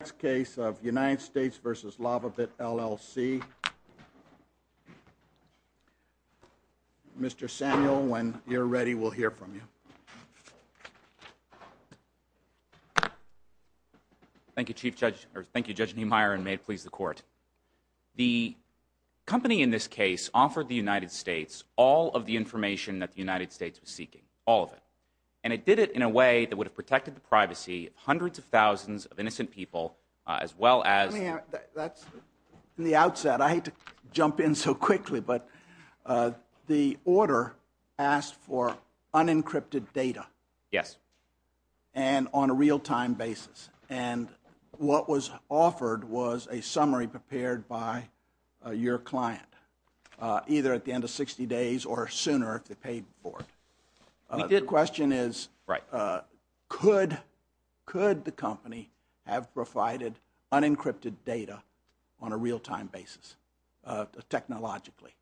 The next case of United States v. Lava Bit, LLC. Mr. Samuel, when you're ready, we'll hear from you. Thank you, Judge Neumeier, and may it please the Court. The company in this case offered the United States all of the information that the United States was seeking, all of it. And it did it in a way that would have protected the privacy of hundreds of thousands of innocent people, as well as... In the outset, I hate to jump in so quickly, but the order asked for unencrypted data. Yes. And on a real-time basis. And what was offered was a summary prepared by your client, either at the end of 60 days or sooner if they paid for it. The question is, could the company have provided unencrypted data on a real-time basis, technologically?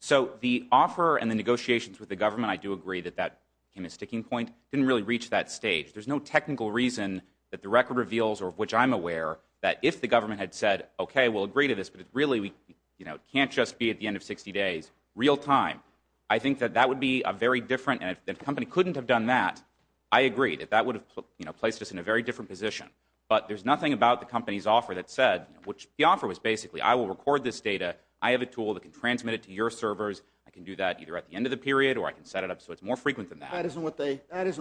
So the offer and the negotiations with the government, I do agree that that became a sticking point, didn't really reach that stage. There's no technical reason that the record reveals, or of which I'm aware, that if the government had said, okay, we'll agree to this, but it really can't just be at the end of 60 days, real-time. I think that that would be a very different... And if the company couldn't have done that, I agree that that would have placed us in a very different position. But there's nothing about the company's offer that said... The offer was basically, I will record this data, I have a tool that can transmit it to your servers, I can do that either at the end of the period or I can set it up so it's more frequent than that. That isn't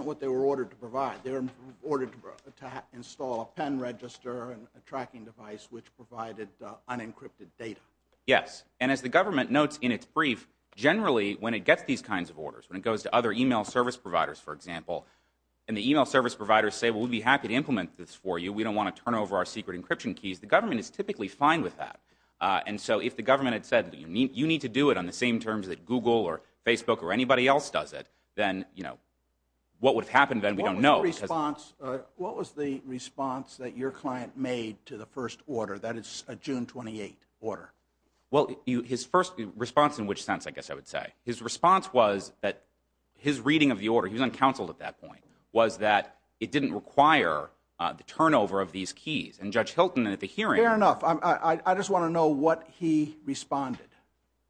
what they were ordered to provide. They were ordered to install a pen register and a tracking device which provided unencrypted data. Yes, and as the government notes in its brief, generally when it gets these kinds of orders, when it goes to other e-mail service providers, for example, and the e-mail service providers say, well, we'd be happy to implement this for you, we don't want to turn over our secret encryption keys, the government is typically fine with that. And so if the government had said, you need to do it on the same terms that Google or Facebook or anybody else does it, then, you know, what would have happened then, we don't know. What was the response that your client made to the first order, that is a June 28 order? Well, his first response in which sense, I guess I would say. His response was that his reading of the order, he was uncounseled at that point, was that it didn't require the turnover of these keys. And Judge Hilton at the hearing... Fair enough. I just want to know what he responded.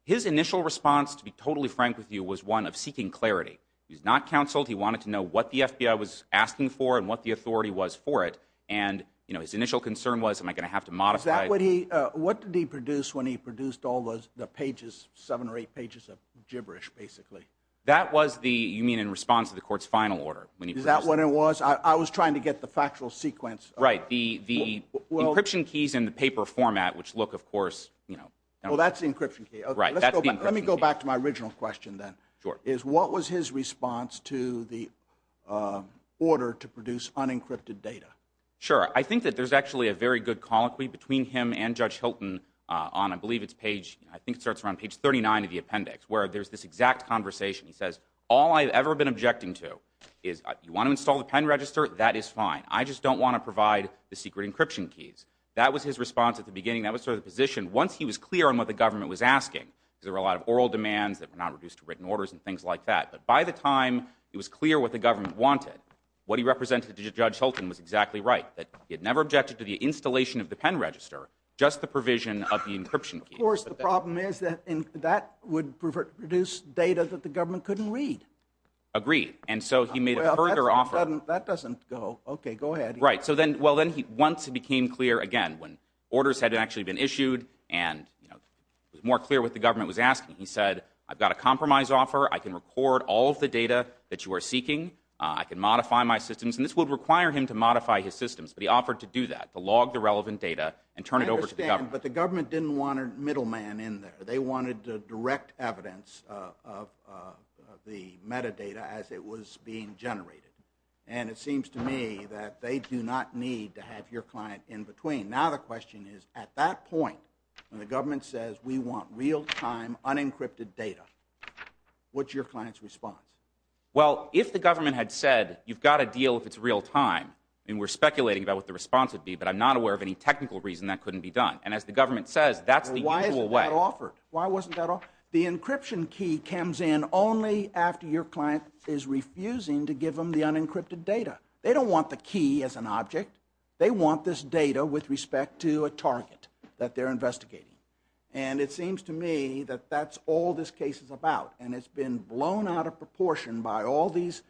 His initial response, to be totally frank with you, was one of seeking clarity. He was not counseled, he wanted to know what the FBI was asking for and what the authority was for it. And, you know, his initial concern was, am I going to have to modify... Is that what he, what did he produce when he produced all the pages, seven or eight pages of gibberish, basically? That was the, you mean in response to the court's final order. Is that what it was? I was trying to get the factual sequence. Right. The encryption keys in the paper format, which look, of course, you know... Well, that's the encryption key. Right. That's the encryption key. Let me go back to my original question then. Sure. Is what was his response to the order to produce unencrypted data? Sure. I think that there's actually a very good colloquy between him and Judge Hilton on, I believe it's page, I think it starts around page 39 of the appendix, where there's this exact conversation. He says, all I've ever been objecting to is, you want to install the pen register? That is fine. I just don't want to provide the secret encryption keys. That was his response at the beginning. That was sort of the position. Once he was clear on what the government was asking, because there were a lot of oral demands that were not reduced to written orders and things like that, but by the time it was clear what the government wanted, what he represented to Judge Hilton was exactly right, that he had never objected to the installation of the pen register, just the provision of the encryption key. Of course, the problem is that that would produce data that the government couldn't read. Agreed. And so he made a further offer. That doesn't go. Okay. Go ahead. Once it became clear again, when orders had actually been issued and it was more clear what the government was asking, he said, I've got a compromise offer. I can record all of the data that you are seeking. I can modify my systems. And this would require him to modify his systems, but he offered to do that, to log the relevant data and turn it over to the government. I understand, but the government didn't want a middleman in there. They wanted direct evidence of the metadata as it was being generated. And it seems to me that they do not need to have your client in between. Now the question is, at that point, when the government says, we want real-time, unencrypted data, what's your client's response? Well, if the government had said, you've got a deal if it's real-time, and we're speculating about what the response would be, but I'm not aware of any technical reason that couldn't be done. And as the government says, that's the usual way. Well, why isn't that offered? Why wasn't that offered? The encryption key comes in only after your client is refusing to give them the unencrypted data. They don't want the key as an object. They want this data with respect to a target that they're investigating. And it seems to me that that's all this case is about. And it's been blown out of proportion by all these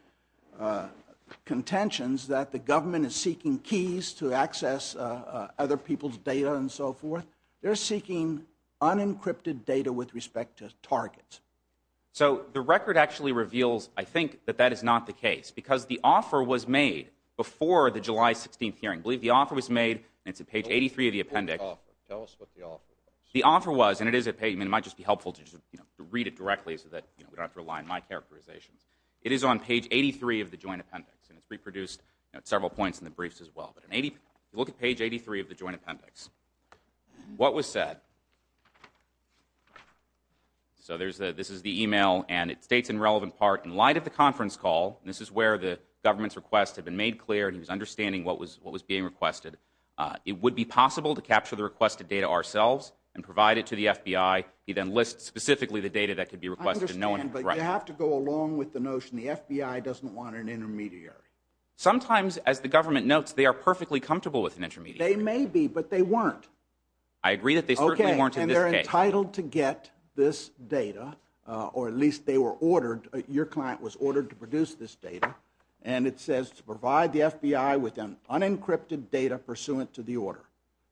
contentions that the government is seeking keys to access other people's data and so forth. And they're seeking unencrypted data with respect to targets. So the record actually reveals, I think, that that is not the case, because the offer was made before the July 16th hearing. I believe the offer was made, and it's at page 83 of the appendix. Tell us what the offer was. The offer was, and it might just be helpful to read it directly so that we don't have to rely on my characterizations. It is on page 83 of the joint appendix, and it's reproduced at several points in the briefs as well. Look at page 83 of the joint appendix. What was said. So this is the e-mail, and it states in relevant part, in light of the conference call, and this is where the government's request had been made clear and he was understanding what was being requested, it would be possible to capture the requested data ourselves and provide it to the FBI. He then lists specifically the data that could be requested. I understand, but you have to go along with the notion. The FBI doesn't want an intermediary. Sometimes, as the government notes, they are perfectly comfortable with an intermediary. They may be, but they weren't. I agree that they certainly weren't in this case. Okay, and they're entitled to get this data, or at least they were ordered, your client was ordered to produce this data, and it says to provide the FBI with an unencrypted data pursuant to the order.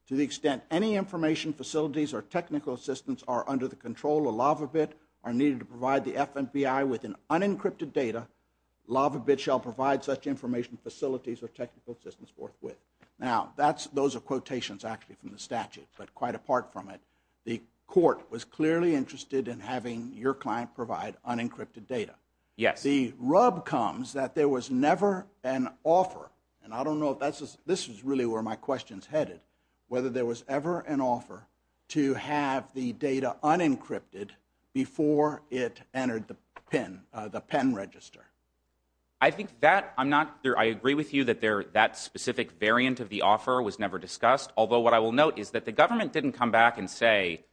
To the extent any information, facilities, or technical assistance are under the control of LavaBit or needed to provide the FBI with an unencrypted data, LavaBit shall provide such information, facilities, or technical assistance forthwith. Now, those are quotations actually from the statute, but quite apart from it, the court was clearly interested in having your client provide unencrypted data. Yes. The rub comes that there was never an offer, and I don't know if this is really where my question's headed, whether there was ever an offer to have the data unencrypted before it entered the PIN, the PIN register. I think that I'm not sure. I agree with you that that specific variant of the offer was never discussed, although what I will note is that the government didn't come back and say,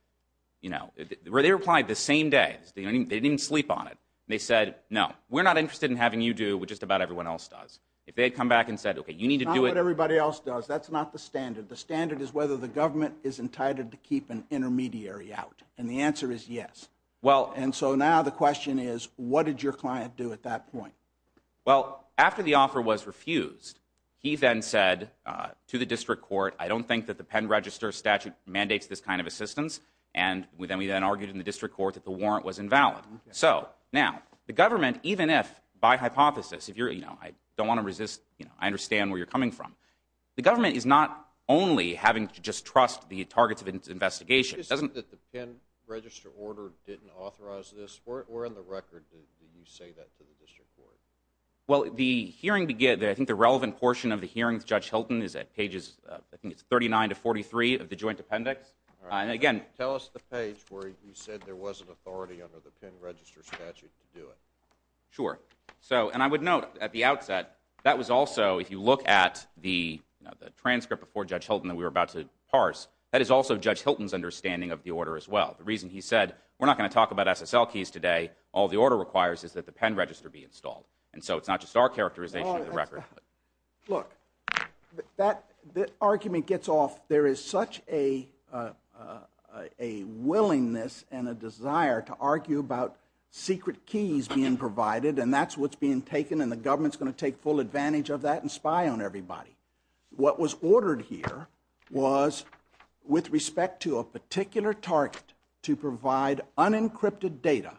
you know, where they replied the same day. They didn't even sleep on it. They said, no, we're not interested in having you do what just about everyone else does. If they had come back and said, okay, you need to do it... It's not what everybody else does. That's not the standard. The standard is whether the government is entitled to keep an intermediary out, and the answer is yes. Well... And so now the question is, what did your client do at that point? Well, after the offer was refused, he then said to the district court, I don't think that the PIN register statute mandates this kind of assistance, and we then argued in the district court that the warrant was invalid. So, now, the government, even if, by hypothesis, if you're, you know, I don't want to resist, you know, I understand where you're coming from. The government is not only having to just trust the targets of its investigation. It's interesting that the PIN register order didn't authorize this. Where on the record did you say that to the district court? Well, the hearing began... I think the relevant portion of the hearing with Judge Hilton is at pages... I think it's 39 to 43 of the joint appendix. All right. And, again... Tell us the page where you said there was an authority under the PIN register statute to do it. Sure. So... And I would note, at the outset, that was also, if you look at the, you know, the transcript before Judge Hilton that we were about to parse, that is also Judge Hilton's understanding of the order, as well. The reason he said, we're not going to talk about SSL keys today. All the order requires is that the PIN register be installed. And so it's not just our characterization of the record. Look, that argument gets off. There is such a willingness and a desire to argue about secret keys being provided, and that's what's being taken, and the government's going to take full advantage of that and spy on everybody. What was ordered here was, with respect to a particular target, to provide unencrypted data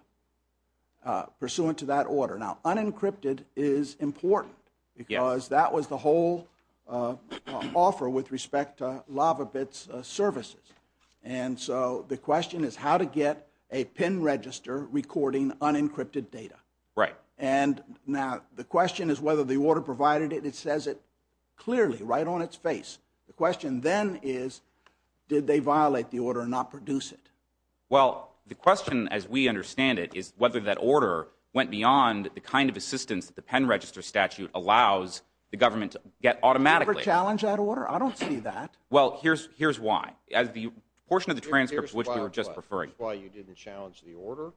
pursuant to that order. Now, unencrypted is important, because that was the whole offer with respect to LavaBits services. And so the question is, how to get a PIN register recording unencrypted data. Right. And, now, the question is whether the order provided it. It says it clearly, right on its face. The question then is, did they violate the order and not produce it? Well, the question, as we understand it, is whether that order went beyond the kind of assistance that the PIN register statute allows the government to get automatically. Did you ever challenge that order? I don't see that. Well, here's why. As the portion of the transcript which we were just referring to. Here's why you didn't challenge the order?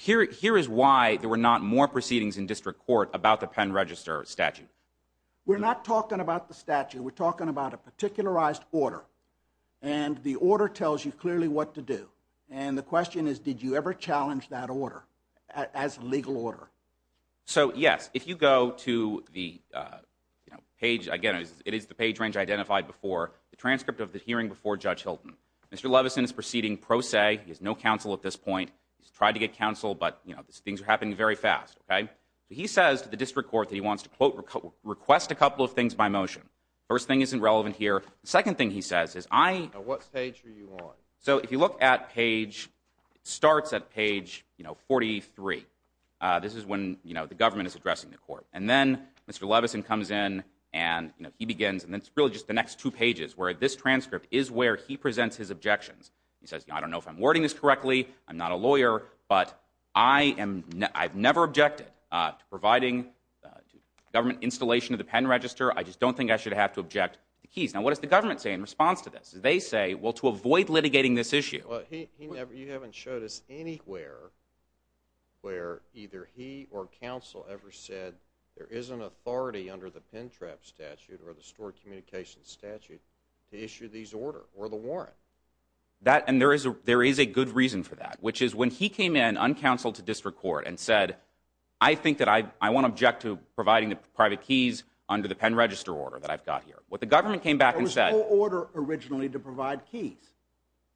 Here is why there were not more proceedings in district court about the PIN register statute. We're not talking about the statute. We're talking about a particularized order. And the order tells you clearly what to do. And the question is, did you ever challenge that order as a legal order? So, yes. If you go to the page, again, it is the page range identified before the transcript of the hearing before Judge Hilton. Mr. Levison is proceeding pro se. He has no counsel at this point. He's tried to get counsel, but things are happening very fast. Okay? He says to the district court that he wants to, quote, request a couple of things by motion. First thing isn't relevant here. The second thing he says is I... Now, what page are you on? So, if you look at page... It starts at page, you know, 43. This is when, you know, the government is addressing the court. And then Mr. Levison comes in and, you know, he begins and it's really just the next two pages where this transcript is where he presents his objections. He says, you know, I don't know if I'm wording this correctly. I'm not a lawyer. But I am... I've never objected to providing government installation of the pen register. I just don't think I should have to object to the keys. Now, what does the government say in response to this? They say, well, to avoid litigating this issue... Well, he never... You haven't showed us anywhere where either he or counsel ever said there is an authority under the pen trap statute or the stored communications statute to issue these order or the warrant. That... And there is a good reason for that, which is when he came in uncounseled to district court and said, I think that I won't object to providing the private keys under the pen register order that I've got here. What the government came back and said... There was no order originally to provide keys.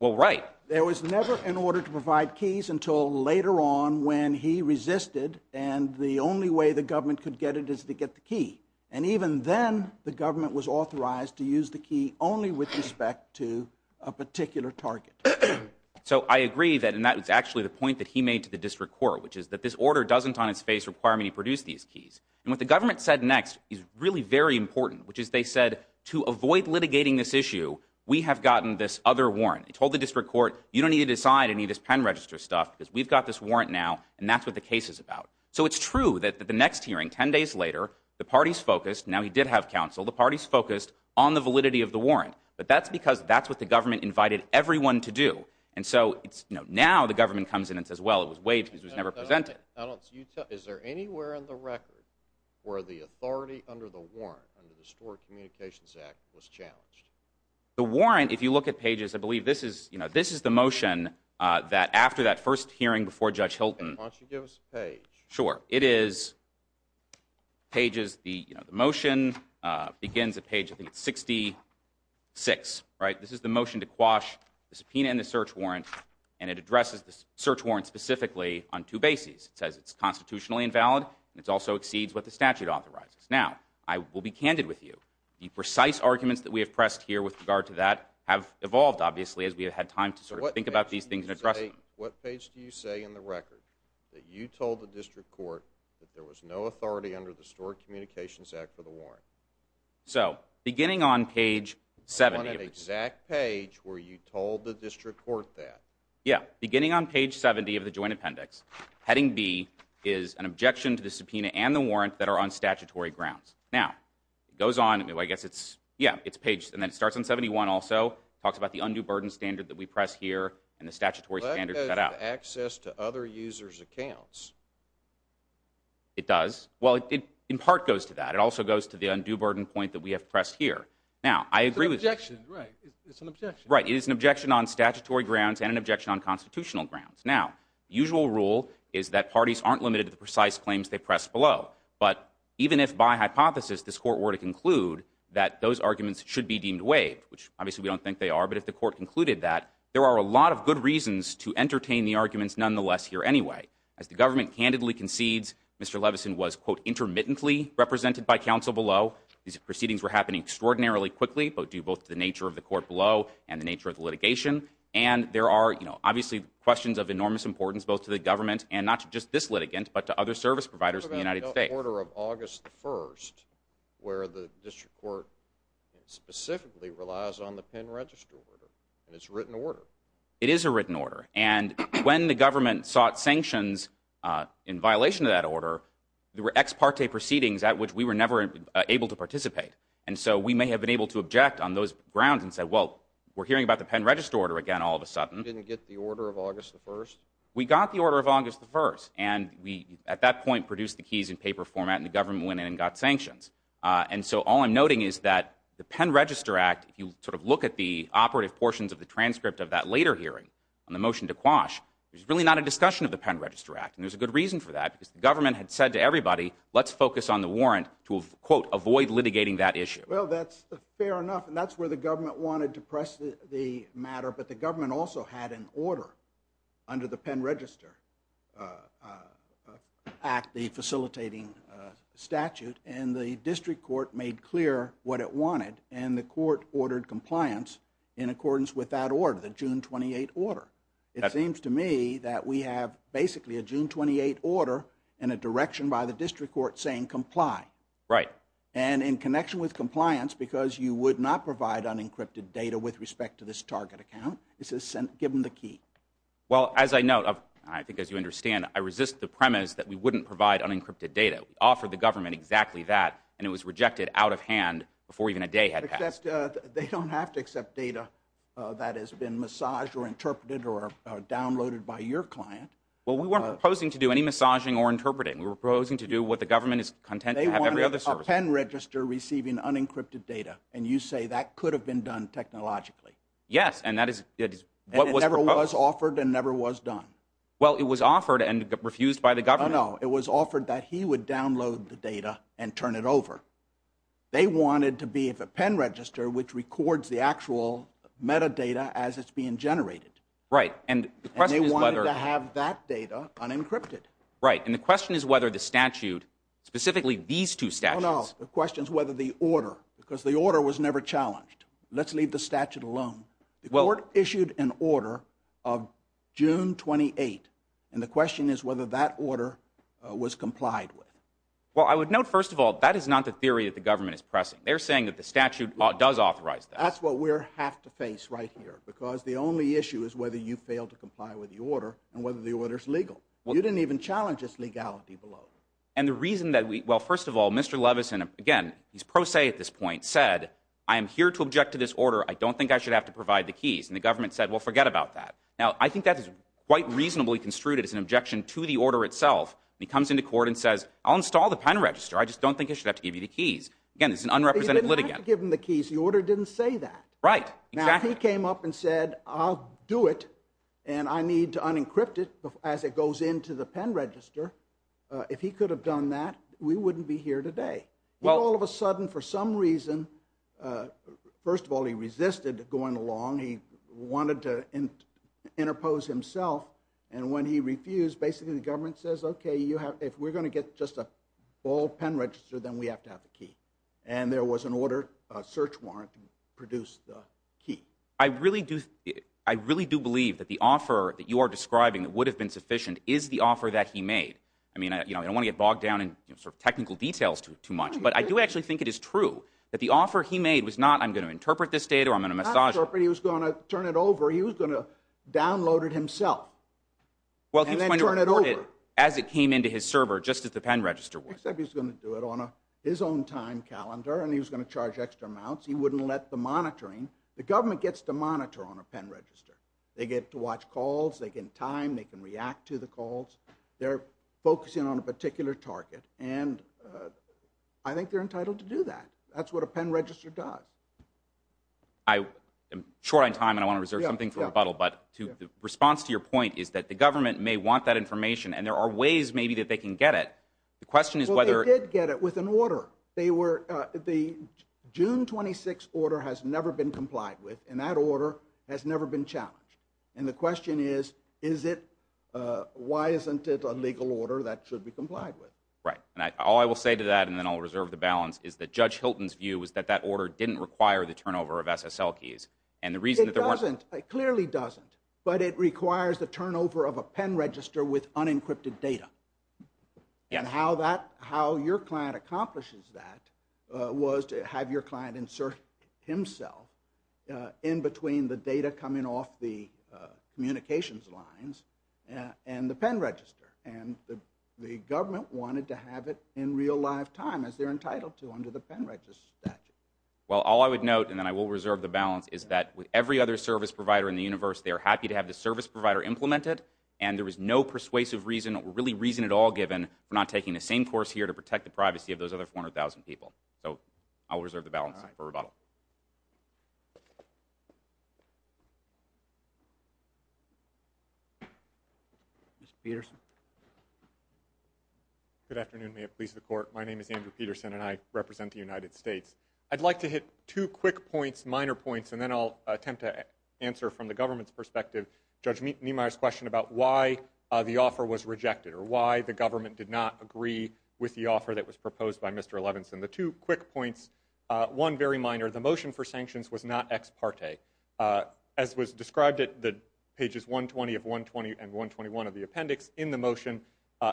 Well, right. There was never an order to provide keys until later on when he resisted and the only way the government could get it is to get the key. And even then, the government was authorized to use the key only with respect to a particular target. So I agree that... And that was actually the point that he made to the district court, which is that this order doesn't on its face require me to produce these keys. And what the government said next is really very important, which is they said, to avoid litigating this issue, we have gotten this other warrant. They told the district court, you don't need to decide any of this pen register stuff because we've got this warrant now and that's what the case is about. So it's true that the next hearing, 10 days later, Now he did have counsel. The parties focused on the validity of the warrant. But that's because that's what the government invited everyone to do. And so, now the government comes in and says, well, it was waived because it was never presented. Is there anywhere on the record where the authority under the warrant, under the Store Communications Act, was challenged? The warrant, if you look at pages, I believe this is the motion that after that first hearing before Judge Hilton... Why don't you give us a page? Sure. It is... Pages... The motion begins at page, I think it's 66, right? This is the motion to quash the subpoena and the search warrant and it addresses the search warrant specifically on two bases. It says it's constitutionally invalid and it also exceeds what the statute authorizes. Now, I will be candid with you. The precise arguments that we have pressed here with regard to that have evolved, obviously, as we have had time to sort of think about these things and address them. What page do you say in the record that you told the district court that there was no authority under the Store Communications Act for the warrant? So, beginning on page 70... On an exact page where you told the district court that. Yeah. Beginning on page 70 of the joint appendix, heading B is an objection to the subpoena and the warrant that are on statutory grounds. Now, it goes on... I guess it's... Yeah, it's page... And then it starts on 71 also. It talks about the undue burden standard that we press here and the statutory standard cut out. That goes to access to other users' accounts. It does. Well, it in part goes to that. It also goes to the undue burden point that we have pressed here. Now, I agree with... It's an objection. Right. It's an objection. Right. It is an objection on statutory grounds and an objection on constitutional grounds. Now, the usual rule is that parties aren't limited to the precise claims they press below. But even if, by hypothesis, this court were to conclude that those arguments should be deemed waived, which obviously we don't think they are, but if the court concluded that, there are a lot of good reasons to entertain the arguments nonetheless here anyway. As the government candidly concedes, Mr. Levison was, quote, intermittently represented by counsel below. These proceedings were happening extraordinarily quickly, due both to the nature of the court below and the nature of the litigation. And there are, you know, obviously questions of enormous importance both to the government and not just this litigant, but to other service providers in the United States. What about the order of August 1st where the district court specifically relies on the pen register order? And it's a written order. It is a written order. And when the government sought sanctions in violation of that order, there were ex parte proceedings at which we were never able to participate. And so we may have been able to object on those grounds and say, well, we're hearing about the pen register order again all of a sudden. You didn't get the order of August 1st? We got the order of August 1st. And we, at that point, produced the keys in paper format and the government went in and got sanctions. And so all I'm noting is that the Pen Register Act, if you sort of look at the operative portions of the transcript of that later hearing on the motion to quash, there's really not a discussion of the Pen Register Act. And there's a good reason for that because the government had said to everybody, let's focus on the warrant to, quote, avoid litigating that issue. Well, that's fair enough. And that's where the government wanted to press the matter. But the government also had an order under the Pen Register Act, the facilitating statute, and the district court made clear what it wanted. And the court ordered compliance in accordance with that order, the June 28 order. It seems to me that we have basically a June 28 order and a direction by the district court saying comply. Right. And in connection with compliance, because you would not provide unencrypted data with respect to this target account, it says give them the key. Well, as I note, and I think as you understand, I resist the premise that we wouldn't provide unencrypted data. We offered the government exactly that and it was rejected out of hand before even a day had passed. They don't have to accept data that has been massaged or interpreted or downloaded by your client. Well, we weren't proposing to do any massaging or interpreting. We were proposing to do what the government is content to have every other service. They wanted a pen register receiving unencrypted data and you say that could have been done technologically. Yes, and that is what was proposed. And it never was offered and never was done. Well, it was offered and refused by the government. Oh, no. It was offered that he would download the data and turn it over. They wanted to be a pen register which records the actual metadata as it's being generated. Right. And they wanted to have that data unencrypted. Right, and the question is whether the statute, specifically these two statutes... No, no, the question is whether the order, because the order was never challenged. Let's leave the statute alone. The court issued an order of June 28th and the question is whether that order was complied with. Well, I would note, first of all, that is not the theory that the government is pressing. They're saying that the statute does authorize that. That's what we have to face right here because the only issue is whether you fail to comply with the order and whether the order is legal. You didn't even challenge its legality below. And the reason that we... Well, first of all, Mr. Levinson, again, he's pro se at this point, said, I am here to object to this order. I don't think I should have to provide the keys. And the government said, well, forget about that. Now, I think that is quite reasonably construed as an objection to the order itself. He comes into court and says, I'll install the pen register. I just don't think I should have to give you the keys. Again, it's an unrepresented litigant. You didn't have to give him the keys. The order didn't say that. Right, exactly. Now, if he came up and said, I'll do it, and I need to unencrypt it as it goes into the pen register, if he could have done that, we wouldn't be here today. Well... All of a sudden, for some reason, first of all, he resisted going along. He wanted to interpose himself. And when he refused, basically the government says, okay, if we're going to get just a bold pen register, then we have to have the key. And there was an order, a search warrant to produce the key. I really do believe that the offer that you are describing that would have been sufficient is the offer that he made. I mean, I don't want to get bogged down in sort of technical details too much, but I do actually think it is true that the offer he made was not, I'm going to interpret this data, or I'm going to massage it. Not interpret. He was going to turn it over. He was going to download it himself and then turn it over. As it came into his server, just as the pen register would. Except he was going to do it on his own time calendar and he was going to charge extra amounts. He wouldn't let the monitoring... The government gets to monitor on a pen register. They get to watch calls, they get time, they can react to the calls. They're focusing on a particular target. And I think they're entitled to do that. That's what a pen register does. I am short on time and I want to reserve something for rebuttal, but the response to your point is that the government may want that information and there are ways maybe that they can get it. The question is whether... Well, they did get it with an order. The June 26 order has never been complied with and that order has never been challenged. And the question is, why isn't it a legal order that should be complied with? Right. All I will say to that, and then I'll reserve the balance, is that Judge Hilton's view is that that order didn't require the turnover of SSL keys. It doesn't. It clearly doesn't. But it requires the turnover of a pen register with unencrypted data. Yes. And how your client accomplishes that was to have your client insert himself in between the data coming off the communications lines and the pen register. And the government wanted to have it in real live time as they're entitled to under the pen register statute. Well, all I would note, and then I will reserve the balance, is that with every other service provider in the universe, they're happy to have the service provider implement it and there was no persuasive reason, or really reason at all given, for not taking the same course here to protect the privacy of those other 400,000 people. So, I'll reserve the balance for rebuttal. Mr. Peterson. Good afternoon. May it please the Court. My name is Andrew Peterson and I represent the United States. I'd like to hit two quick points, minor points, and then I'll attempt to answer from the government's perspective Judge Niemeyer's question about why the offer was rejected, or why the government did not agree with the offer that was proposed by Mr. Levinson. The two quick points. One very minor. The motion for sanctions was not ex parte. As was described at pages 120 of 120 and 121 of the appendix in the motion,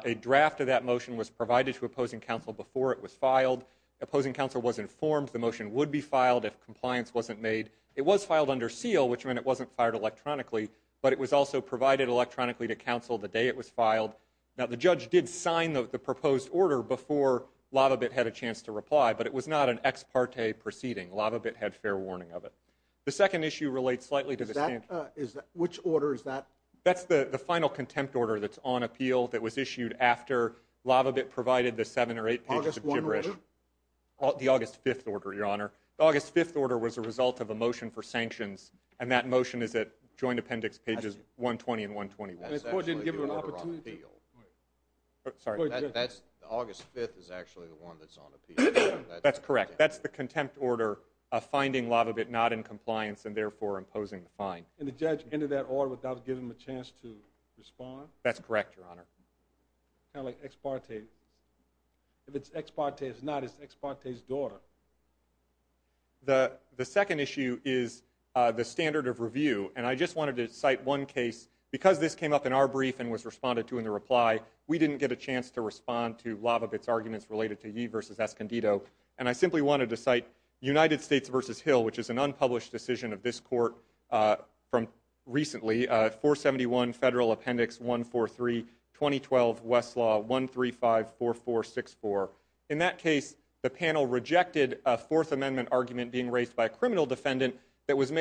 a draft of that motion was provided to opposing counsel before it was filed. Opposing counsel was informed the motion would be filed if compliance wasn't made. It was filed under seal, which meant it wasn't fired electronically, but it was also provided electronically to counsel the day it was filed. Now, the judge did sign the proposed order before Lavabit had a chance to reply, but it was not an ex parte proceeding. Lavabit had fair warning of it. The second issue relates slightly to the sanctions. Which order is that? That's the final contempt order that's on appeal that was issued after Lavabit provided the 7 or 8 pages of gibberish. August 1 order? The August 5th order, Your Honor. The August 5th order was a result of a motion for sanctions, and that motion is at Joint Appendix pages 120 and 121. That's actually the order on appeal. Sorry? August 5th is actually the one that's on appeal. That's correct. That's the contempt order of finding Lavabit not in compliance and therefore imposing the fine. And the judge entered that order without giving him a chance to respond? That's correct, Your Honor. Kind of like ex parte. If it's ex parte, it's not. It's ex parte's daughter. The second issue is the standard of review, and I just wanted to cite one case. Because this came up in our brief and was responded to in the reply, we didn't get a chance to respond to Lavabit's arguments related to Yee v. Escondido, and I simply wanted to cite United States' published decision of this court from recently, 471 Federal Appendix 143, 2012 Westlaw 1354464. In that case, the panel rejected a Fourth Amendment argument being raised by a criminal defendant that was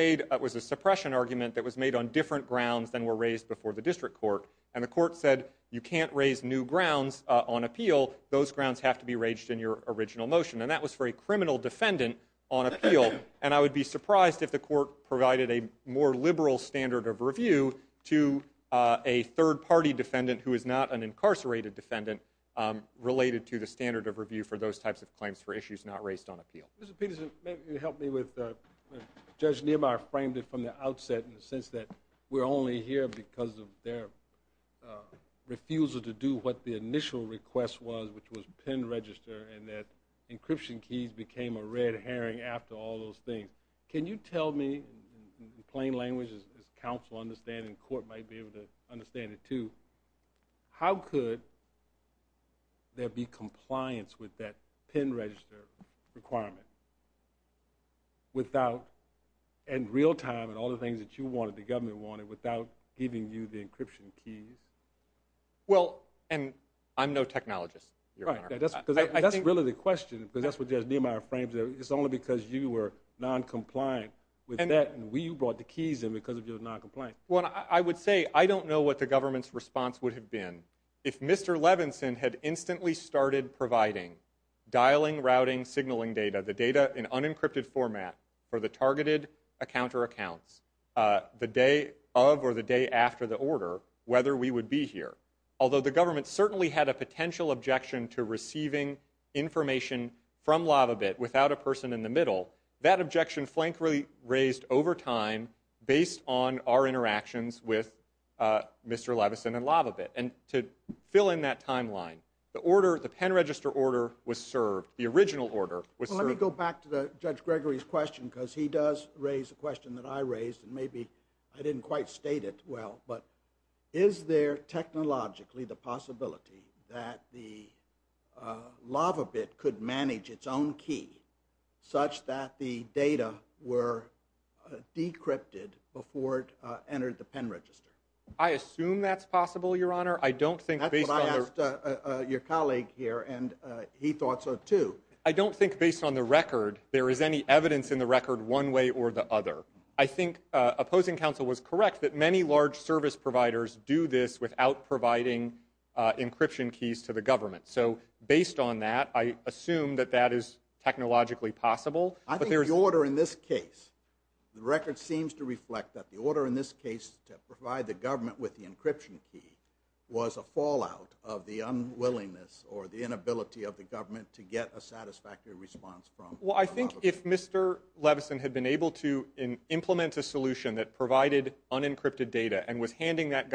a suppression argument that was made on different grounds than were raised before the district court. And the court said, you can't raise new grounds on appeal. Those grounds have to be raised in your original motion. And that was for a criminal defendant on appeal. And I would be surprised if the court provided a more liberal standard of review to a third party defendant who is not an incarcerated defendant related to the standard of review for those types of claims for issues not raised on appeal. Judge Niemeyer framed it from the outset in the sense that we're only here because of their refusal to do what the initial request was, which was pin register, and that encryption keys became a red herring after all those things. Can you tell me, in plain language, as counsel understand, and the court might be able to understand it too, how could there be compliance with that pin register requirement without, in real time, and all the things that you wanted, the government wanted, without giving you the encryption keys? Well, and I'm no technologist, Your Honor. That's really the question, because that's what Judge Niemeyer framed there. It's only because you were noncompliant with that, and we brought the keys in because of your noncompliance. Well, I would say, I don't know what the government's response would have been if Mr. Levinson had instantly started providing dialing, routing, signaling data, the data in unencrypted format for the targeted account or accounts the day of or the day after the order, whether we would be here. Although the government certainly had a potential objection to receiving information from LavaBit without a person in the middle, that objection Flank really raised over time based on our interactions with Mr. Levinson and LavaBit, and to fill in that timeline, the order, the pin register order was served, the original order was served. Well, let me go back to the Judge Gregory's question, because he does raise a question that I raised, and maybe I didn't quite state it well, but is there technologically the possibility that the LavaBit could manage its own key such that the data were decrypted before it entered the pin register? I assume that's possible, Your Honor. I don't think based on... That's what I asked your colleague here, and he thought so too. I don't think based on the record, there is any evidence in the record one way or the other. I think opposing counsel was correct that many large service providers do this without providing encryption keys to the government. So based on that, I assume that that is technologically possible. I think the order in this case, the record seems to reflect that the order in this case to provide the government with the encryption key was a fallout of the unwillingness or the inability of the government to get a satisfactory response from LavaBit. Well, I think if Mr. Levinson had been able to implement a solution that provided unencrypted data and was handing that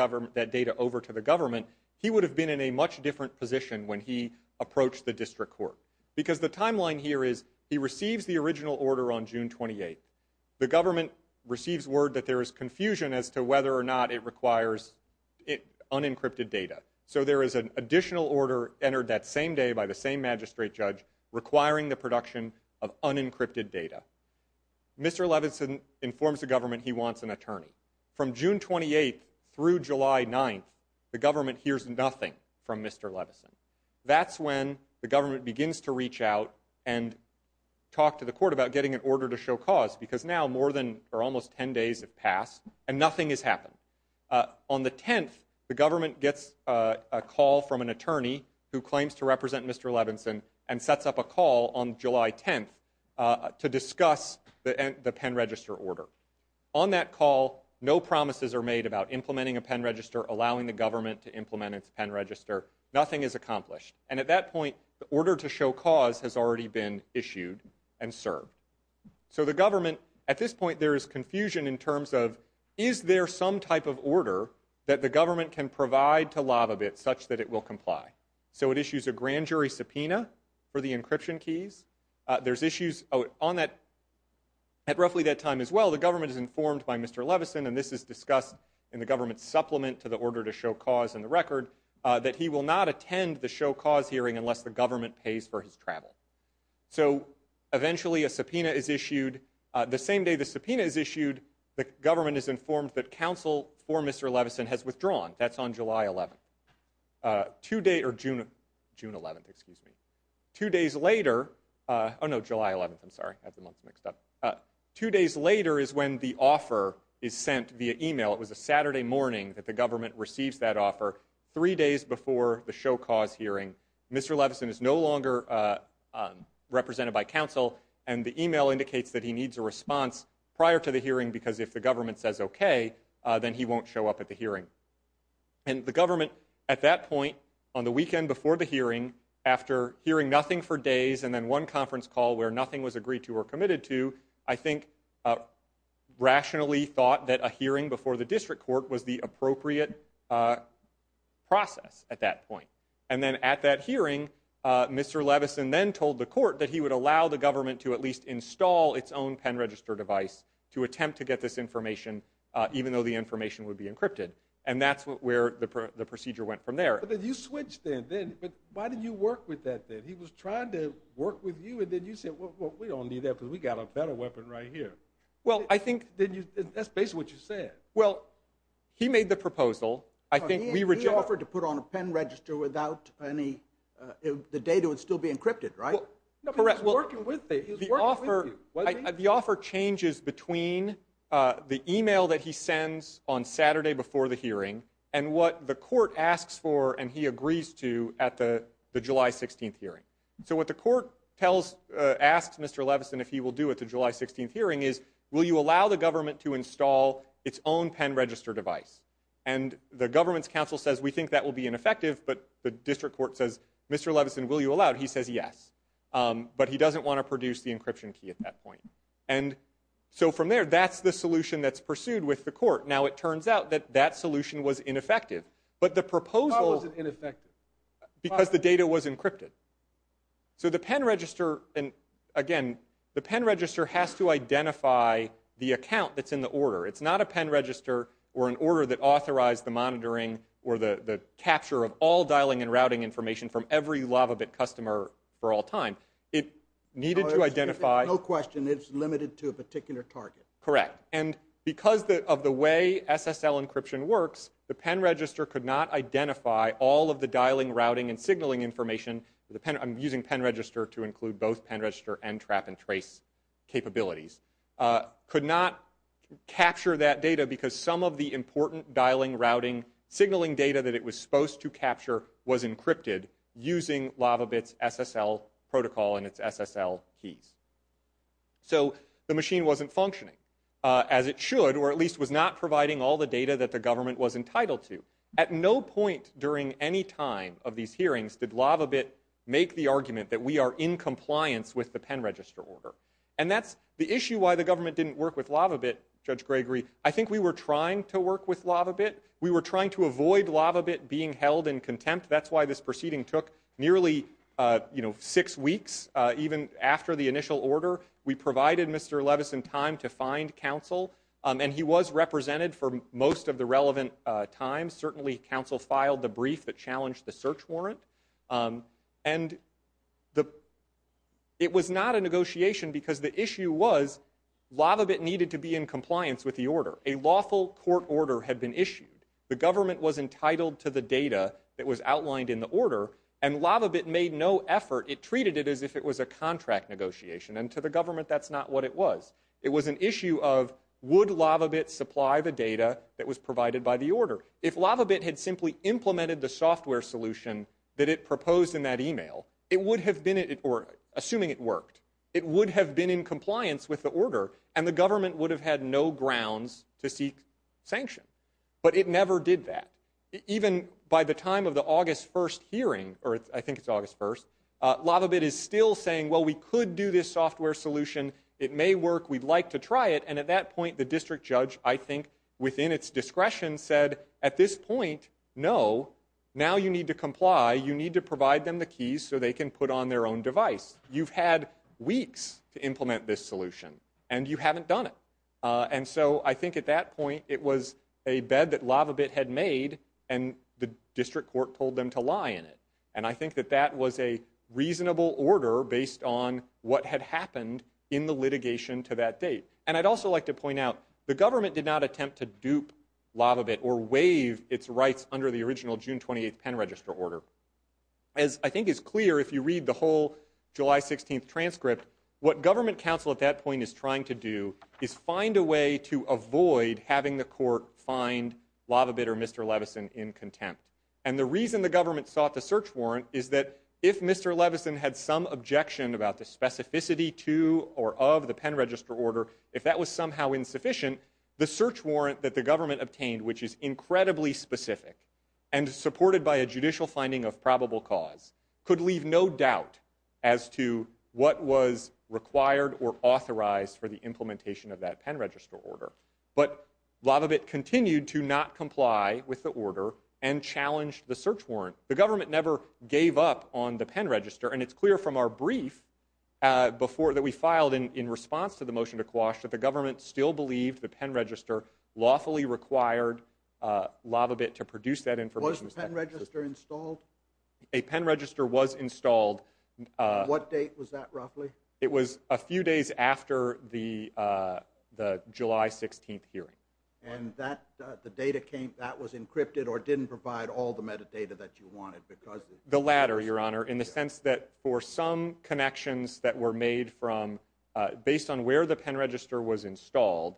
data over to the government, he would have been in a much different position when he approached the district court. Because the timeline here is, he receives the original order on June 28th. The government receives word that there is confusion as to whether or not it requires unencrypted data. So there is an additional order entered that same day by the same magistrate judge requiring the production of unencrypted data. Mr. Levinson informs the government he wants an attorney. From June 28th through July 9th, the government hears nothing from Mr. Levinson. That's when the government begins to reach out and talk to the court about getting an order to show cause, because now more than, or almost 10 days have passed, and nothing has happened. On the 10th, the government gets a call from an attorney who claims to represent Mr. Levinson and sets up a call on July 10th to discuss the pen register order. On that call, no promises are made about implementing a pen register, allowing the government to implement its pen register. Nothing is accomplished. And at that point, the order to show cause has already been issued and served. So the government, at this point there is confusion in terms of is there some type of order that the government can provide to LavaBit such that it will comply? So it issues a grand jury subpoena for the encryption keys. There's issues on that. At roughly that time as well, the government is informed by Mr. Levinson, and this is discussed in the government's supplement to the order to show cause in the record, that he will not attend the show cause hearing unless the government pays for his travel. So, eventually a subpoena is issued. The same day the subpoena is issued, the government is informed that counsel for Mr. Levinson has withdrawn. That's on July 11th. Two days, or June 11th, excuse me. Two days later, oh no, July 11th, I'm sorry, I have the months mixed up. Two days later is when the offer is sent via email. It was a Saturday morning that the government receives that offer. Three days before the show cause hearing, Mr. Levinson is no longer represented by counsel, and the email indicates that he needs a response prior to the hearing because if the government says okay, then he won't show up at the hearing. And the government, at that hearing, after hearing nothing for days and then one conference call where nothing was agreed to or committed to, I think, rationally thought that a hearing before the district court was the appropriate process at that point. And then at that hearing, Mr. Levinson then told the court that he would allow the government to at least install its own pen register device to attempt to get this information even though the information would be encrypted. And that's where the procedure went from there. But you switched then. Why did you work with that then? He was trying to work with you and then you said, we don't need that because we got a better weapon right here. Well, I think... That's basically what you said. He made the proposal. He offered to put on a pen register without any... The data would still be encrypted, right? He was working with you. The offer changes between the email that he sends on Saturday before the hearing and what the court asks for and he agrees to at the July 16th hearing. So what the court asks Mr. Levinson if he will do at the July 16th hearing is, will you allow the government to install its own pen register device? And the government's council says, we think that will be ineffective, but the district court says, Mr. Levinson, will you allow it? He says yes. But he doesn't want to produce the encryption key at that point. And so from there, that's the solution that's pursued with the court. Now it turns out that that solution was ineffective. But the proposal... Why was it ineffective? Because the data was encrypted. So the pen register... Again, the pen register has to identify the account that's in the order. It's not a pen register or an order that authorized the monitoring or the capture of all dialing and routing information from every LavaBit customer for all time. It needed to identify... No question, it's limited to a particular target. Correct. And because of the way SSL encryption works, the pen register could not identify all of the dialing, routing, and signaling information. I'm using pen register to include both pen register and trap and trace capabilities. Could not capture that data because some of the important dialing, routing, signaling data that it was supposed to capture was encrypted using LavaBit's SSL protocol and its SSL keys. So the machine wasn't functioning as it should or at least was not providing all the data that the government was entitled to. At no point during any time of these hearings did LavaBit make the argument that we are in compliance with the pen register order. And that's the issue why the government didn't work with LavaBit, Judge Gregory. I think we were trying to work with LavaBit. We were trying to avoid LavaBit being held in contempt. That's why this proceeding took nearly six years to complete. It was not a negotiation because the issue was LavaBit needed to be in compliance with the order. A lawful court order had been issued. The government was entitled to the data that was outlined in the order and LavaBit made no effort. negotiation. It was not a negotiation because the issue was LavaBit needed to be in compliance and to the government that's not what it was. It was an issue of would LavaBit supply the data that was provided by the order. If LavaBit had simply implemented the software solution that it proposed in that email it would have been, or assuming it worked, it would have been in compliance with the order and the government would have had no grounds to seek sanction. But it never did that. Even by the time of the August 1st hearing, or I think it's August 1st, LavaBit is still saying, well we could do this software solution, it may work, we'd like to try it, and at that point the district judge, I think, within its discretion said, at this point no, now you need to comply you need to provide them the keys so they can put on their own device. You've had weeks to implement this solution and you haven't done it. And so I think at that point it was a bed that LavaBit had made and the district court told them to lie in it. And I think that that was a reasonable order based on what had happened in the litigation to that date. And I'd also like to point out, the government did not attempt to dupe LavaBit or waive its rights under the original June 28th pen register order. As I think is clear if you read the whole July 16th transcript what government counsel at that point is trying to do is find a way to avoid having the court find LavaBit or Mr. Levison in contempt. And the reason the government sought the search warrant is that if Mr. Levison had some objection about the specificity to or of the pen register order if that was somehow insufficient the search warrant that the government obtained which is incredibly specific and supported by a judicial finding of probable cause could leave no doubt as to what was required or authorized for the implementation of that pen register order. But LavaBit continued to not comply with the order and challenged the search warrant. The government never gave up on the pen register and it's clear from our brief that we filed in response to the motion to quash that the government still believed the pen register lawfully required LavaBit to produce that information. Was the pen register installed? A pen register was installed What date was that roughly? It was a few days after the July 16th hearing. And that was encrypted or didn't provide all the metadata that you wanted? The latter, your honor, in the sense that for some connections that were made from, based on where the pen register was installed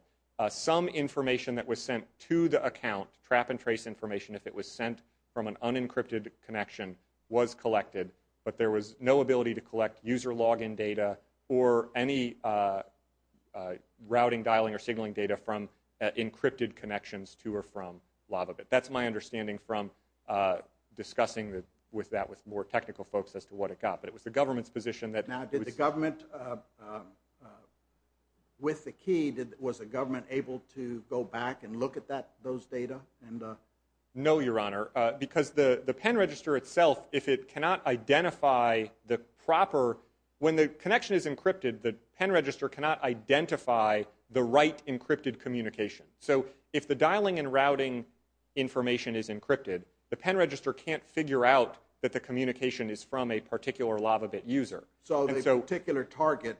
some information that was sent to the account, trap and trace information if it was sent from an unencrypted connection was collected but there was no ability to collect user login data or any routing, dialing, or signaling data from encrypted connections to or from LavaBit. That's my understanding from discussing with that with more technical folks as to what it got. But it was the government's position that... Now did the government with the key, was the government able to go back and look at that, those data? No, your honor, because the pen register itself, if it cannot identify the proper, when the connection is encrypted, the pen register cannot identify the right encrypted communication. So if the dialing and routing information is encrypted, the pen register can't figure out that the communication is from a particular LavaBit user. So the particular target,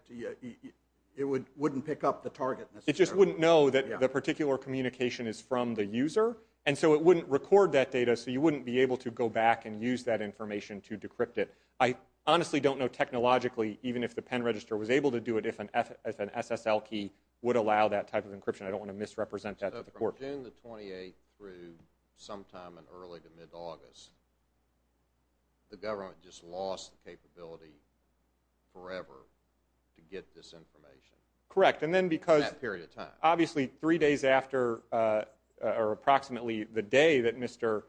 it wouldn't pick up the target necessarily? It just wouldn't know that the particular communication is from the user and so it wouldn't record that data so you wouldn't be able to go back and use that information to decrypt it. I honestly don't know technologically even if the pen register was able to do it if an SSL key would allow that type of encryption. I don't want to misrepresent that to the court. So from June the 28th through sometime in early to mid-August, the government just lost the capability forever to get this information? Correct, and then because... In that period of time? Obviously, three days after, or approximately the day that Mr.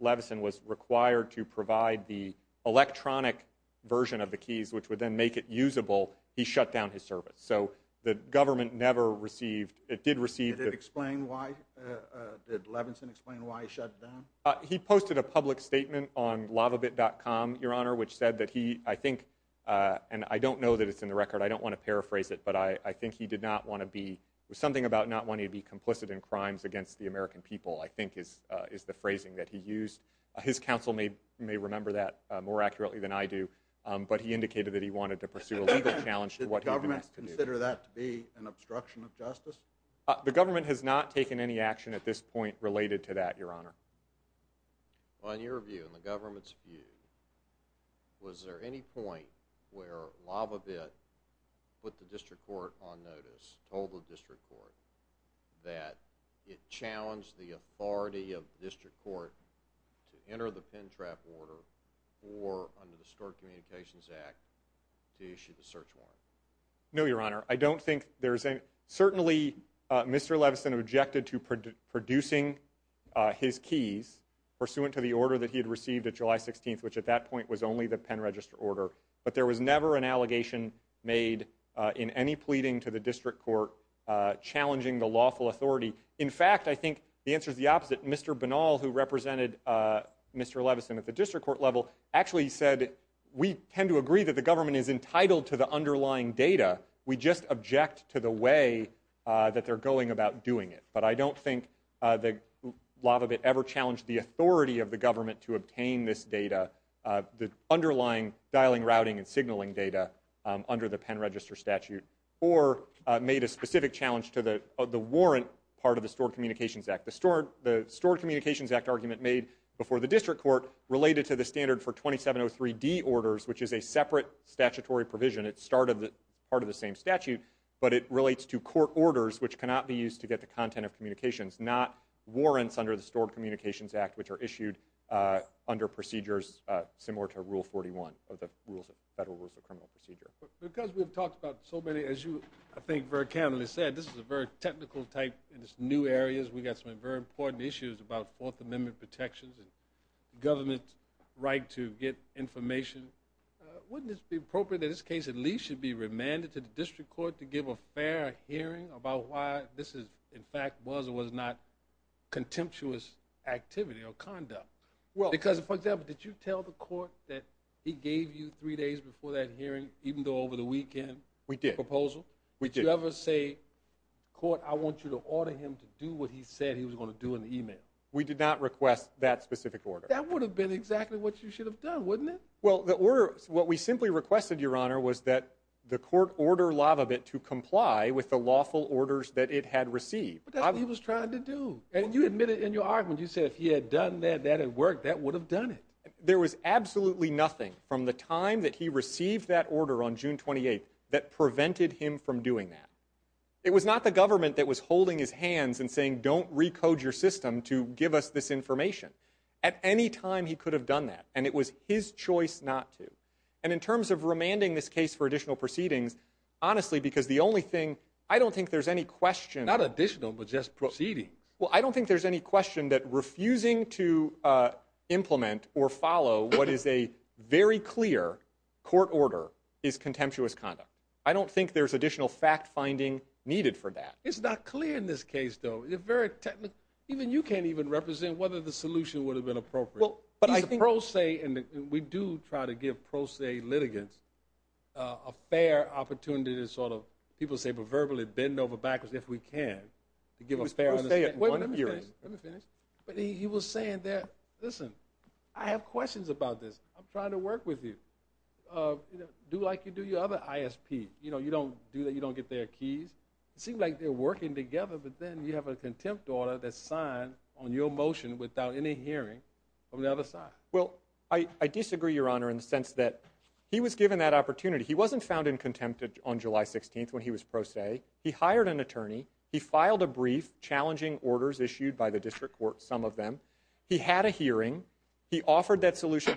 Levison was required to provide the electronic version of the keys which would then make it usable, he shut down his service. So the government never received... It did receive... Did it explain why? Did Levison explain why he shut it down? He posted a public statement on LavaBit.com, Your Honor, which said that he, I think, and I don't know that it's in the record, I don't want to paraphrase it, but I think he did not want to be... Something about not wanting to be complicit in crimes against the American people I think is the phrasing that he used. His counsel may remember that more accurately than I do, but he indicated that he wanted to pursue a legal challenge to what he was asked to do. Did the government consider that to be an obstruction of justice? The government has not taken any action at this point related to that, Your Honor. Well, in your view, in the government's view, was there any point where LavaBit put the district court on notice, told the district court, that it challenged the authority of the district court to enter the pen trap order or, under the Stork Communications Act, to issue the search warrant? No, Your Honor. I don't think there's any... Certainly Mr. Levinson objected to producing his keys pursuant to the order that he had received at July 16th, which at that point was only the pen register order, but there was never an allegation made in any pleading to the district court challenging the lawful authority. In fact, I think the answer is the opposite. Mr. Banal, who represented Mr. Levinson at the district court level, actually said, we tend to agree that the government is entitled to the underlying data. We just object to the way that they're going about doing it. But I don't think that LavaBit ever challenged the authority of the government to obtain this data, the underlying dialing, routing, and signaling data under the pen register statute, or made a specific challenge to the warrant part of the Stored Communications Act. The Stored Communications Act argument made before the district court related to the standard for 2703D orders, which is a separate statutory provision. It's part of the same statute, but it relates to court orders, which cannot be used to get the content of communications, not warrants under the Stored Communications Act, which are issued under procedures similar to Rule 41 of the Federal Rules of Criminal Procedure. Because we've talked about so many, as you, I think, very technical-type new areas. We've got some very important issues about Fourth Amendment protections and government's right to get information. Wouldn't it be appropriate in this case, at least, to be remanded to the district court to give a fair hearing about why this is, in fact, was or was not contemptuous activity or conduct? Because, for example, did you tell the court that he gave you three days before that hearing, even though over the weekend, a proposal? Did you ever say, court, I want you to order him to do what he said he was going to do in the email? We did not request that specific order. That would have been exactly what you should have done, wouldn't it? Well, the order, what we simply requested, Your Honor, was that the court order Lavabit to comply with the lawful orders that it had received. But that's what he was trying to do. And you admitted in your argument, you said if he had done that, that had worked, that would have done it. There was absolutely nothing, from the time that he received that order on June 28th, that prevented him from doing that. It was not the government that was holding his hands and saying, don't recode your system to give us this information. At any time, he could have done that. And it was his choice not to. And in terms of remanding this case for additional proceedings, honestly, because the only thing, I don't think there's any question... Not additional, but just proceedings. Well, I don't think there's any question that refusing to implement or follow what is a very clear court order is contemptuous conduct. I don't think there's additional fact-finding needed for that. It's not clear in this case, though. It's very technical. Even you can't even represent whether the solution would have been appropriate. He's a pro se, and we do try to give pro se litigants a fair opportunity to sort of, people say, but verbally bend over backwards if we can to give a fair understanding. Wait, let me finish. Listen, I have a question for you. Do like you do your other ISP. You know, you don't do that, you don't get their keys. It seems like they're working together, but then you have a contempt order that's signed on your motion without any hearing from the other side. Well, I disagree, Your Honor, in the sense that he was given that opportunity. He wasn't found in contempt on July 16th when he was pro se. He hired an attorney. He filed a brief challenging orders issued by the district court, some of them. He had a hearing. He had a hearing. He had a hearing.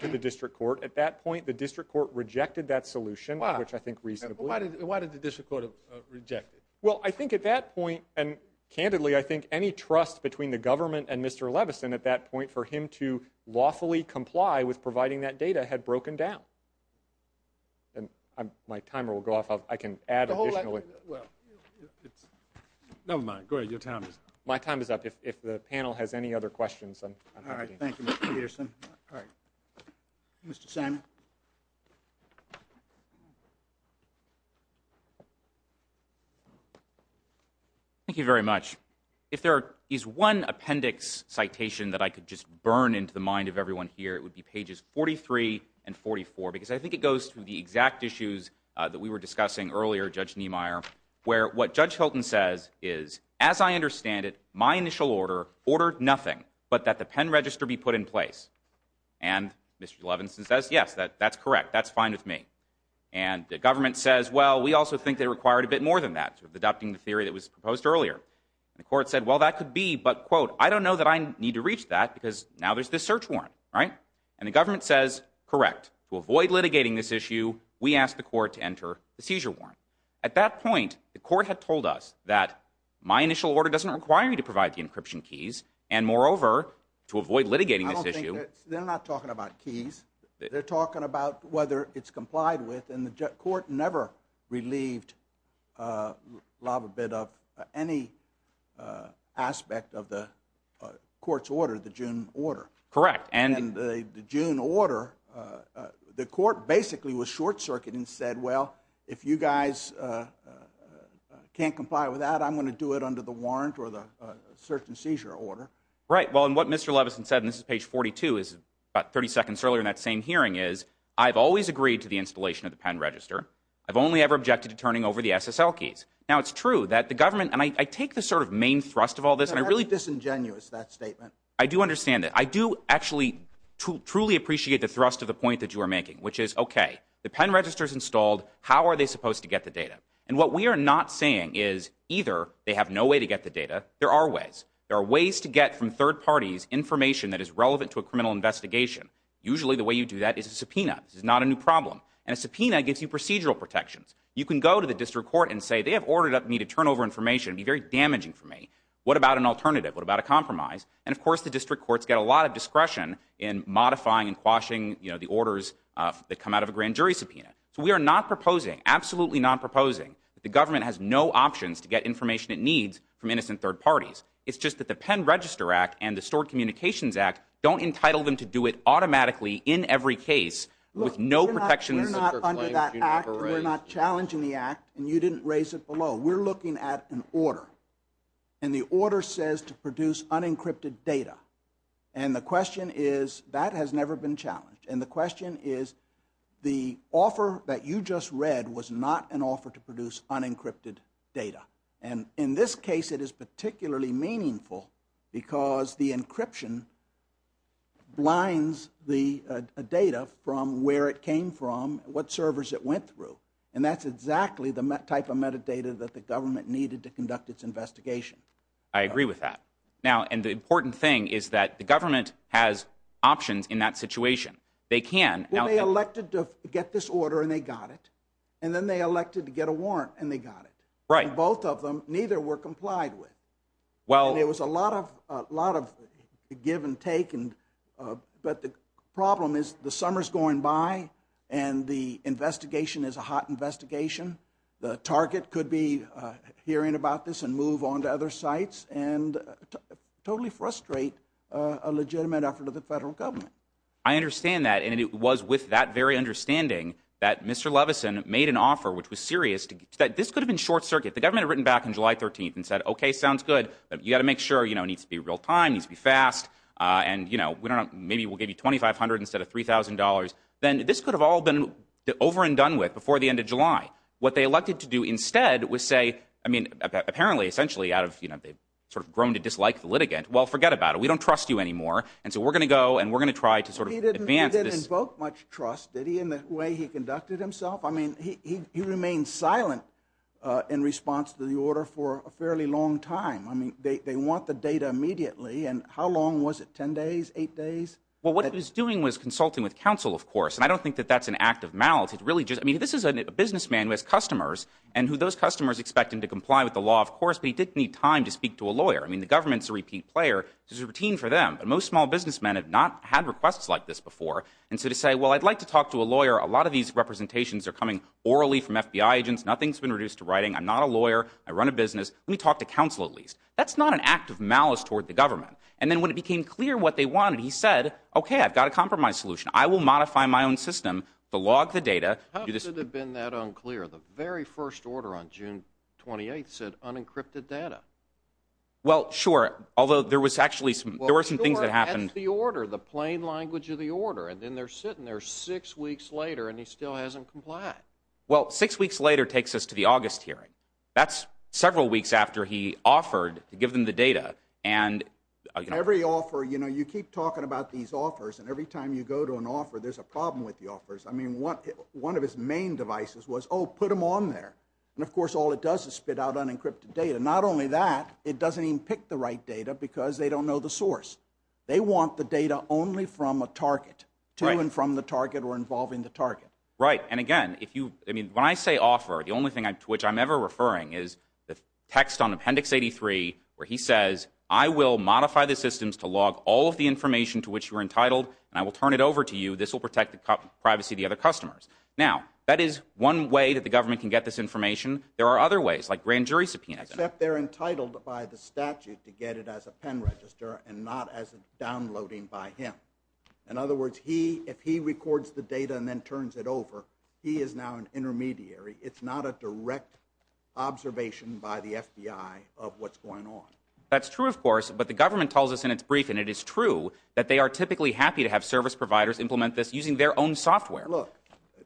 And I think at that point, the district court rejected that solution, which I think reasonably... Why did the district court reject it? Well, I think at that point, and candidly, I think any trust between the government and Mr. Levison at that point for him to lawfully comply with providing that data had broken down. My timer will go off. I can add additional... Never mind. Go ahead. Your time is up. My time is up. If the panel has any other questions... Thank you, Mr. Peterson. Mr. Simon. Thank you very much. If there is one appendix citation that I could just burn into the mind of everyone here, it would be pages 43 and 44, because I think it goes to the exact issues that we were discussing earlier, Judge Niemeyer, where what Judge Hilton says is, as I understand it, my initial order ordered nothing but that the pen register be put in place. And Mr. Levison says, yes, that's correct. That's fine with me. And the government says, well, we also think they required a bit more than that, adopting the theory that was proposed earlier. The court said, well, that could be, but, quote, I don't know that I need to reach that, because now there's this search warrant, right? And the government says, correct. To avoid litigating this issue, we asked the court to enter the seizure warrant. At that point, the court had told us that my initial order doesn't require you to provide the encryption keys, and moreover, to avoid litigating this issue... I don't think that... They're not talking about keys. They're talking about whether it's complied with, and the court never relieved Lava Bid of any aspect of the court's order, the June order. Correct. And the June order, the court basically was short-circuiting and said, well, if you guys can't comply with that, I'm going to do it under the warrant or the search and seizure order. Right. Well, and what Mr. Levison said, and this is page 42, about 30 seconds earlier in that same hearing, is, I've always agreed to the installation of the pen register. I've only ever objected to turning over the SSL keys. Now, it's true that the government, and I take the sort of main thrust of all this, and I really... That's disingenuous, that statement. I do understand that. I do actually truly appreciate the thrust of the point that you are making, which is, okay, the pen register's installed. How are they supposed to get the data? And what we are not saying is, either they have no way to get the data. There are ways. There are ways to get from third parties information that is relevant to a criminal investigation. Usually, the way you do that is a subpoena. This is not a new problem. And a subpoena gives you procedural protections. You can go to the district court and say, they have ordered me to turn over information. It would be very damaging for me. What about an alternative? What about a compromise? And, of course, the district courts get a lot of discretion in modifying and quashing, you know, the orders that come out of a grand jury subpoena. So we are not proposing, absolutely not proposing, that the government has no options to get information it needs from innocent third parties. It's just that the Pen Register Act and the Stored Communications Act don't entitle them to do it automatically in every case with no protections under that act. We're not challenging the act, and you didn't raise it below. We're looking at an order says to produce unencrypted data. And the question is, that has never been challenged. And the question is, the offer that you just read was not an offer to produce unencrypted data. And in this case it is particularly meaningful because the encryption blinds the data from where it came from, what servers it went through. And that's exactly the type of metadata that the government needed to conduct its investigation. I agree with that. Now, and the important thing is that the government has options in that situation. They can... Well, they elected to get this order, and they got it. And then they elected to get a warrant, and they got it. Right. And both of them, neither were complied with. Well... And it was a lot of give and take. But the problem is, the summer's going by and the investigation is a hot investigation. The target could be hearing about this and move on to other sites and totally frustrate a legitimate effort of the federal government. I understand that. And it was with that very understanding that Mr. Levison made an offer, which was serious, that this could have been short circuit. The government had written back on July 13th and said, OK, sounds good, but you got to make sure, you know, it needs to be real time, it needs to be fast, and, you know, maybe we'll give you $2,500 instead of $3,000. Then this could have all been over and done with before the end of July. What they elected to do instead was say, I mean, apparently, essentially, out of, you know, they've sort of grown to dislike the litigant, well, forget about it. We don't trust you anymore. And so we're going to go and we're going to try to sort of advance this. He didn't invoke much trust, did he, in the way he conducted himself? I mean, he remained silent in response to the order for a fairly long time. I mean, they want the data immediately. And how long was it? Ten days? Eight days? Well, what he was doing was consulting with counsel, of course, and I don't think that that's an act of malice. It's really just, I mean, this is a businessman who has customers, and who those customers expect him to comply with the law, of course, but he didn't need time to speak to a lawyer. I mean, the government's a repeat player. It's a routine for them. But most small businessmen have not had requests like this before. And so to say, well, I'd like to talk to a lawyer, a lot of these representations are coming orally from FBI agents. Nothing's been reduced to writing. I'm not a lawyer. I run a business. Let me talk to counsel, at least. That's not an act of malice toward the government. And then when it became clear what they wanted, he said, okay, I've got a compromise solution. I will modify my own system to log the data. How could it have been that unclear? The very first order on June 28th said unencrypted data. Well, sure, although there was actually some, there were some things that happened. Well, sure, that's the order, the plain language of the order, and then they're sitting there six weeks later, and he still hasn't complied. Well, six weeks later takes us to the August hearing. That's several weeks after he offered to give them the data, and... Every offer, you know, you keep talking about these offers, and every time you go to an offer, there's a problem with the offers. I mean, one of his main devices was, oh, put them on there. And, of course, all it does is spit out unencrypted data. Not only that, it doesn't even pick the right data because they don't know the source. They want the data only from a target, to and from the target, or involving the target. Right, and again, if you, I mean, when I say offer, the only thing to which I'm ever referring is the text on Appendix 83 where he says, I will modify the systems to log all of the information to which you are entitled, and I will turn it over to you. This will protect the privacy of the other customers. Now, that is one way that the government can get this information. There are other ways, like grand jury subpoena. Except they're entitled by the statute to get it as a pen register and not as downloading by him. In other words, if he records the data and then turns it over, he is now an intermediary. It's not a direct observation by the government. That's true, of course, but the government tells us in its brief, and it is true, that they are typically happy to have service providers implement this using their own software. Look,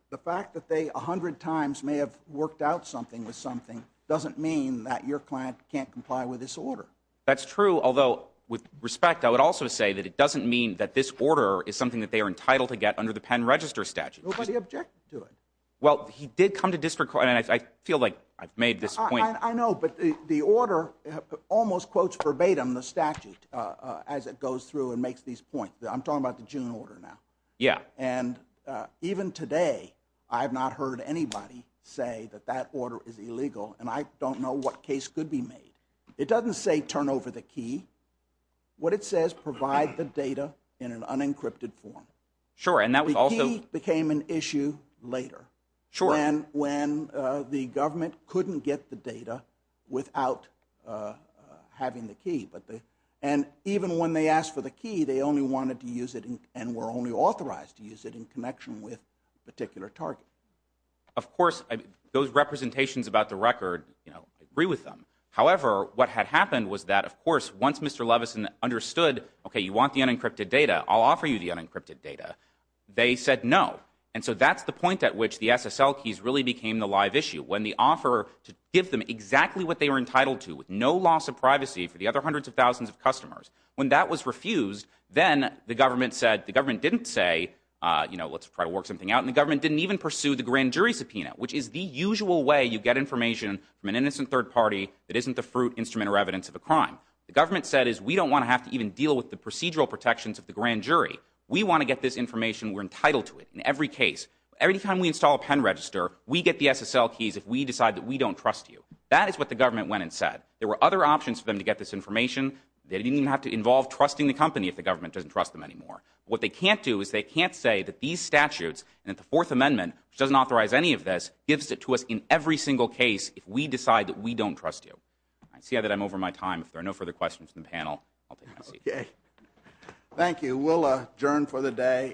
the fact that they a hundred times may have worked out something with something doesn't mean that your client can't comply with this order. That's true, although, with respect, I would also say that it doesn't mean that this order is something that they are entitled to get under the pen register statute. Nobody objected to it. Well, he did come to district court, and I feel like I've made this point. I know, but the order almost quotes verbatim the statute as it goes through and makes these points. I'm talking about the June order now. Even today, I have not heard anybody say that that order is illegal, and I don't know what case could be made. It doesn't say turn over the key. What it says, provide the data in an unencrypted form. The key became an issue later when the without having the key. Even when they asked for the key, they only wanted to use it and were only authorized to use it in connection with a particular target. Of course, those representations about the record, I agree with them. However, what had happened was that, of course, once Mr. Levison understood, you want the unencrypted data, I'll offer you the unencrypted data. They said no, and so that's the point at which the SSL keys really became the live issue. When the offer to give them exactly what they were entitled to, with no loss of privacy for the other hundreds of thousands of customers, when that was refused, then the government said, the government didn't say, you know, let's try to work something out, and the government didn't even pursue the grand jury subpoena, which is the usual way you get information from an innocent third party that isn't the fruit, instrument, or evidence of a crime. The government said is we don't want to have to even deal with the procedural protections of the grand jury. We want to get this information. We're entitled to it in every case. Every time we install a pen register, we get the SSL keys if we decide that we don't trust you. That is what the government went and said. There were other options for them to get this information. They didn't even have to involve trusting the company if the government doesn't trust them anymore. What they can't do is they can't say that these statutes and that the Fourth Amendment, which doesn't authorize any of this, gives it to us in every single case if we decide that we don't trust you. I see that I'm over my time. If there are no further questions from the panel, I'll take my seat. Thank you. We'll adjourn for the day.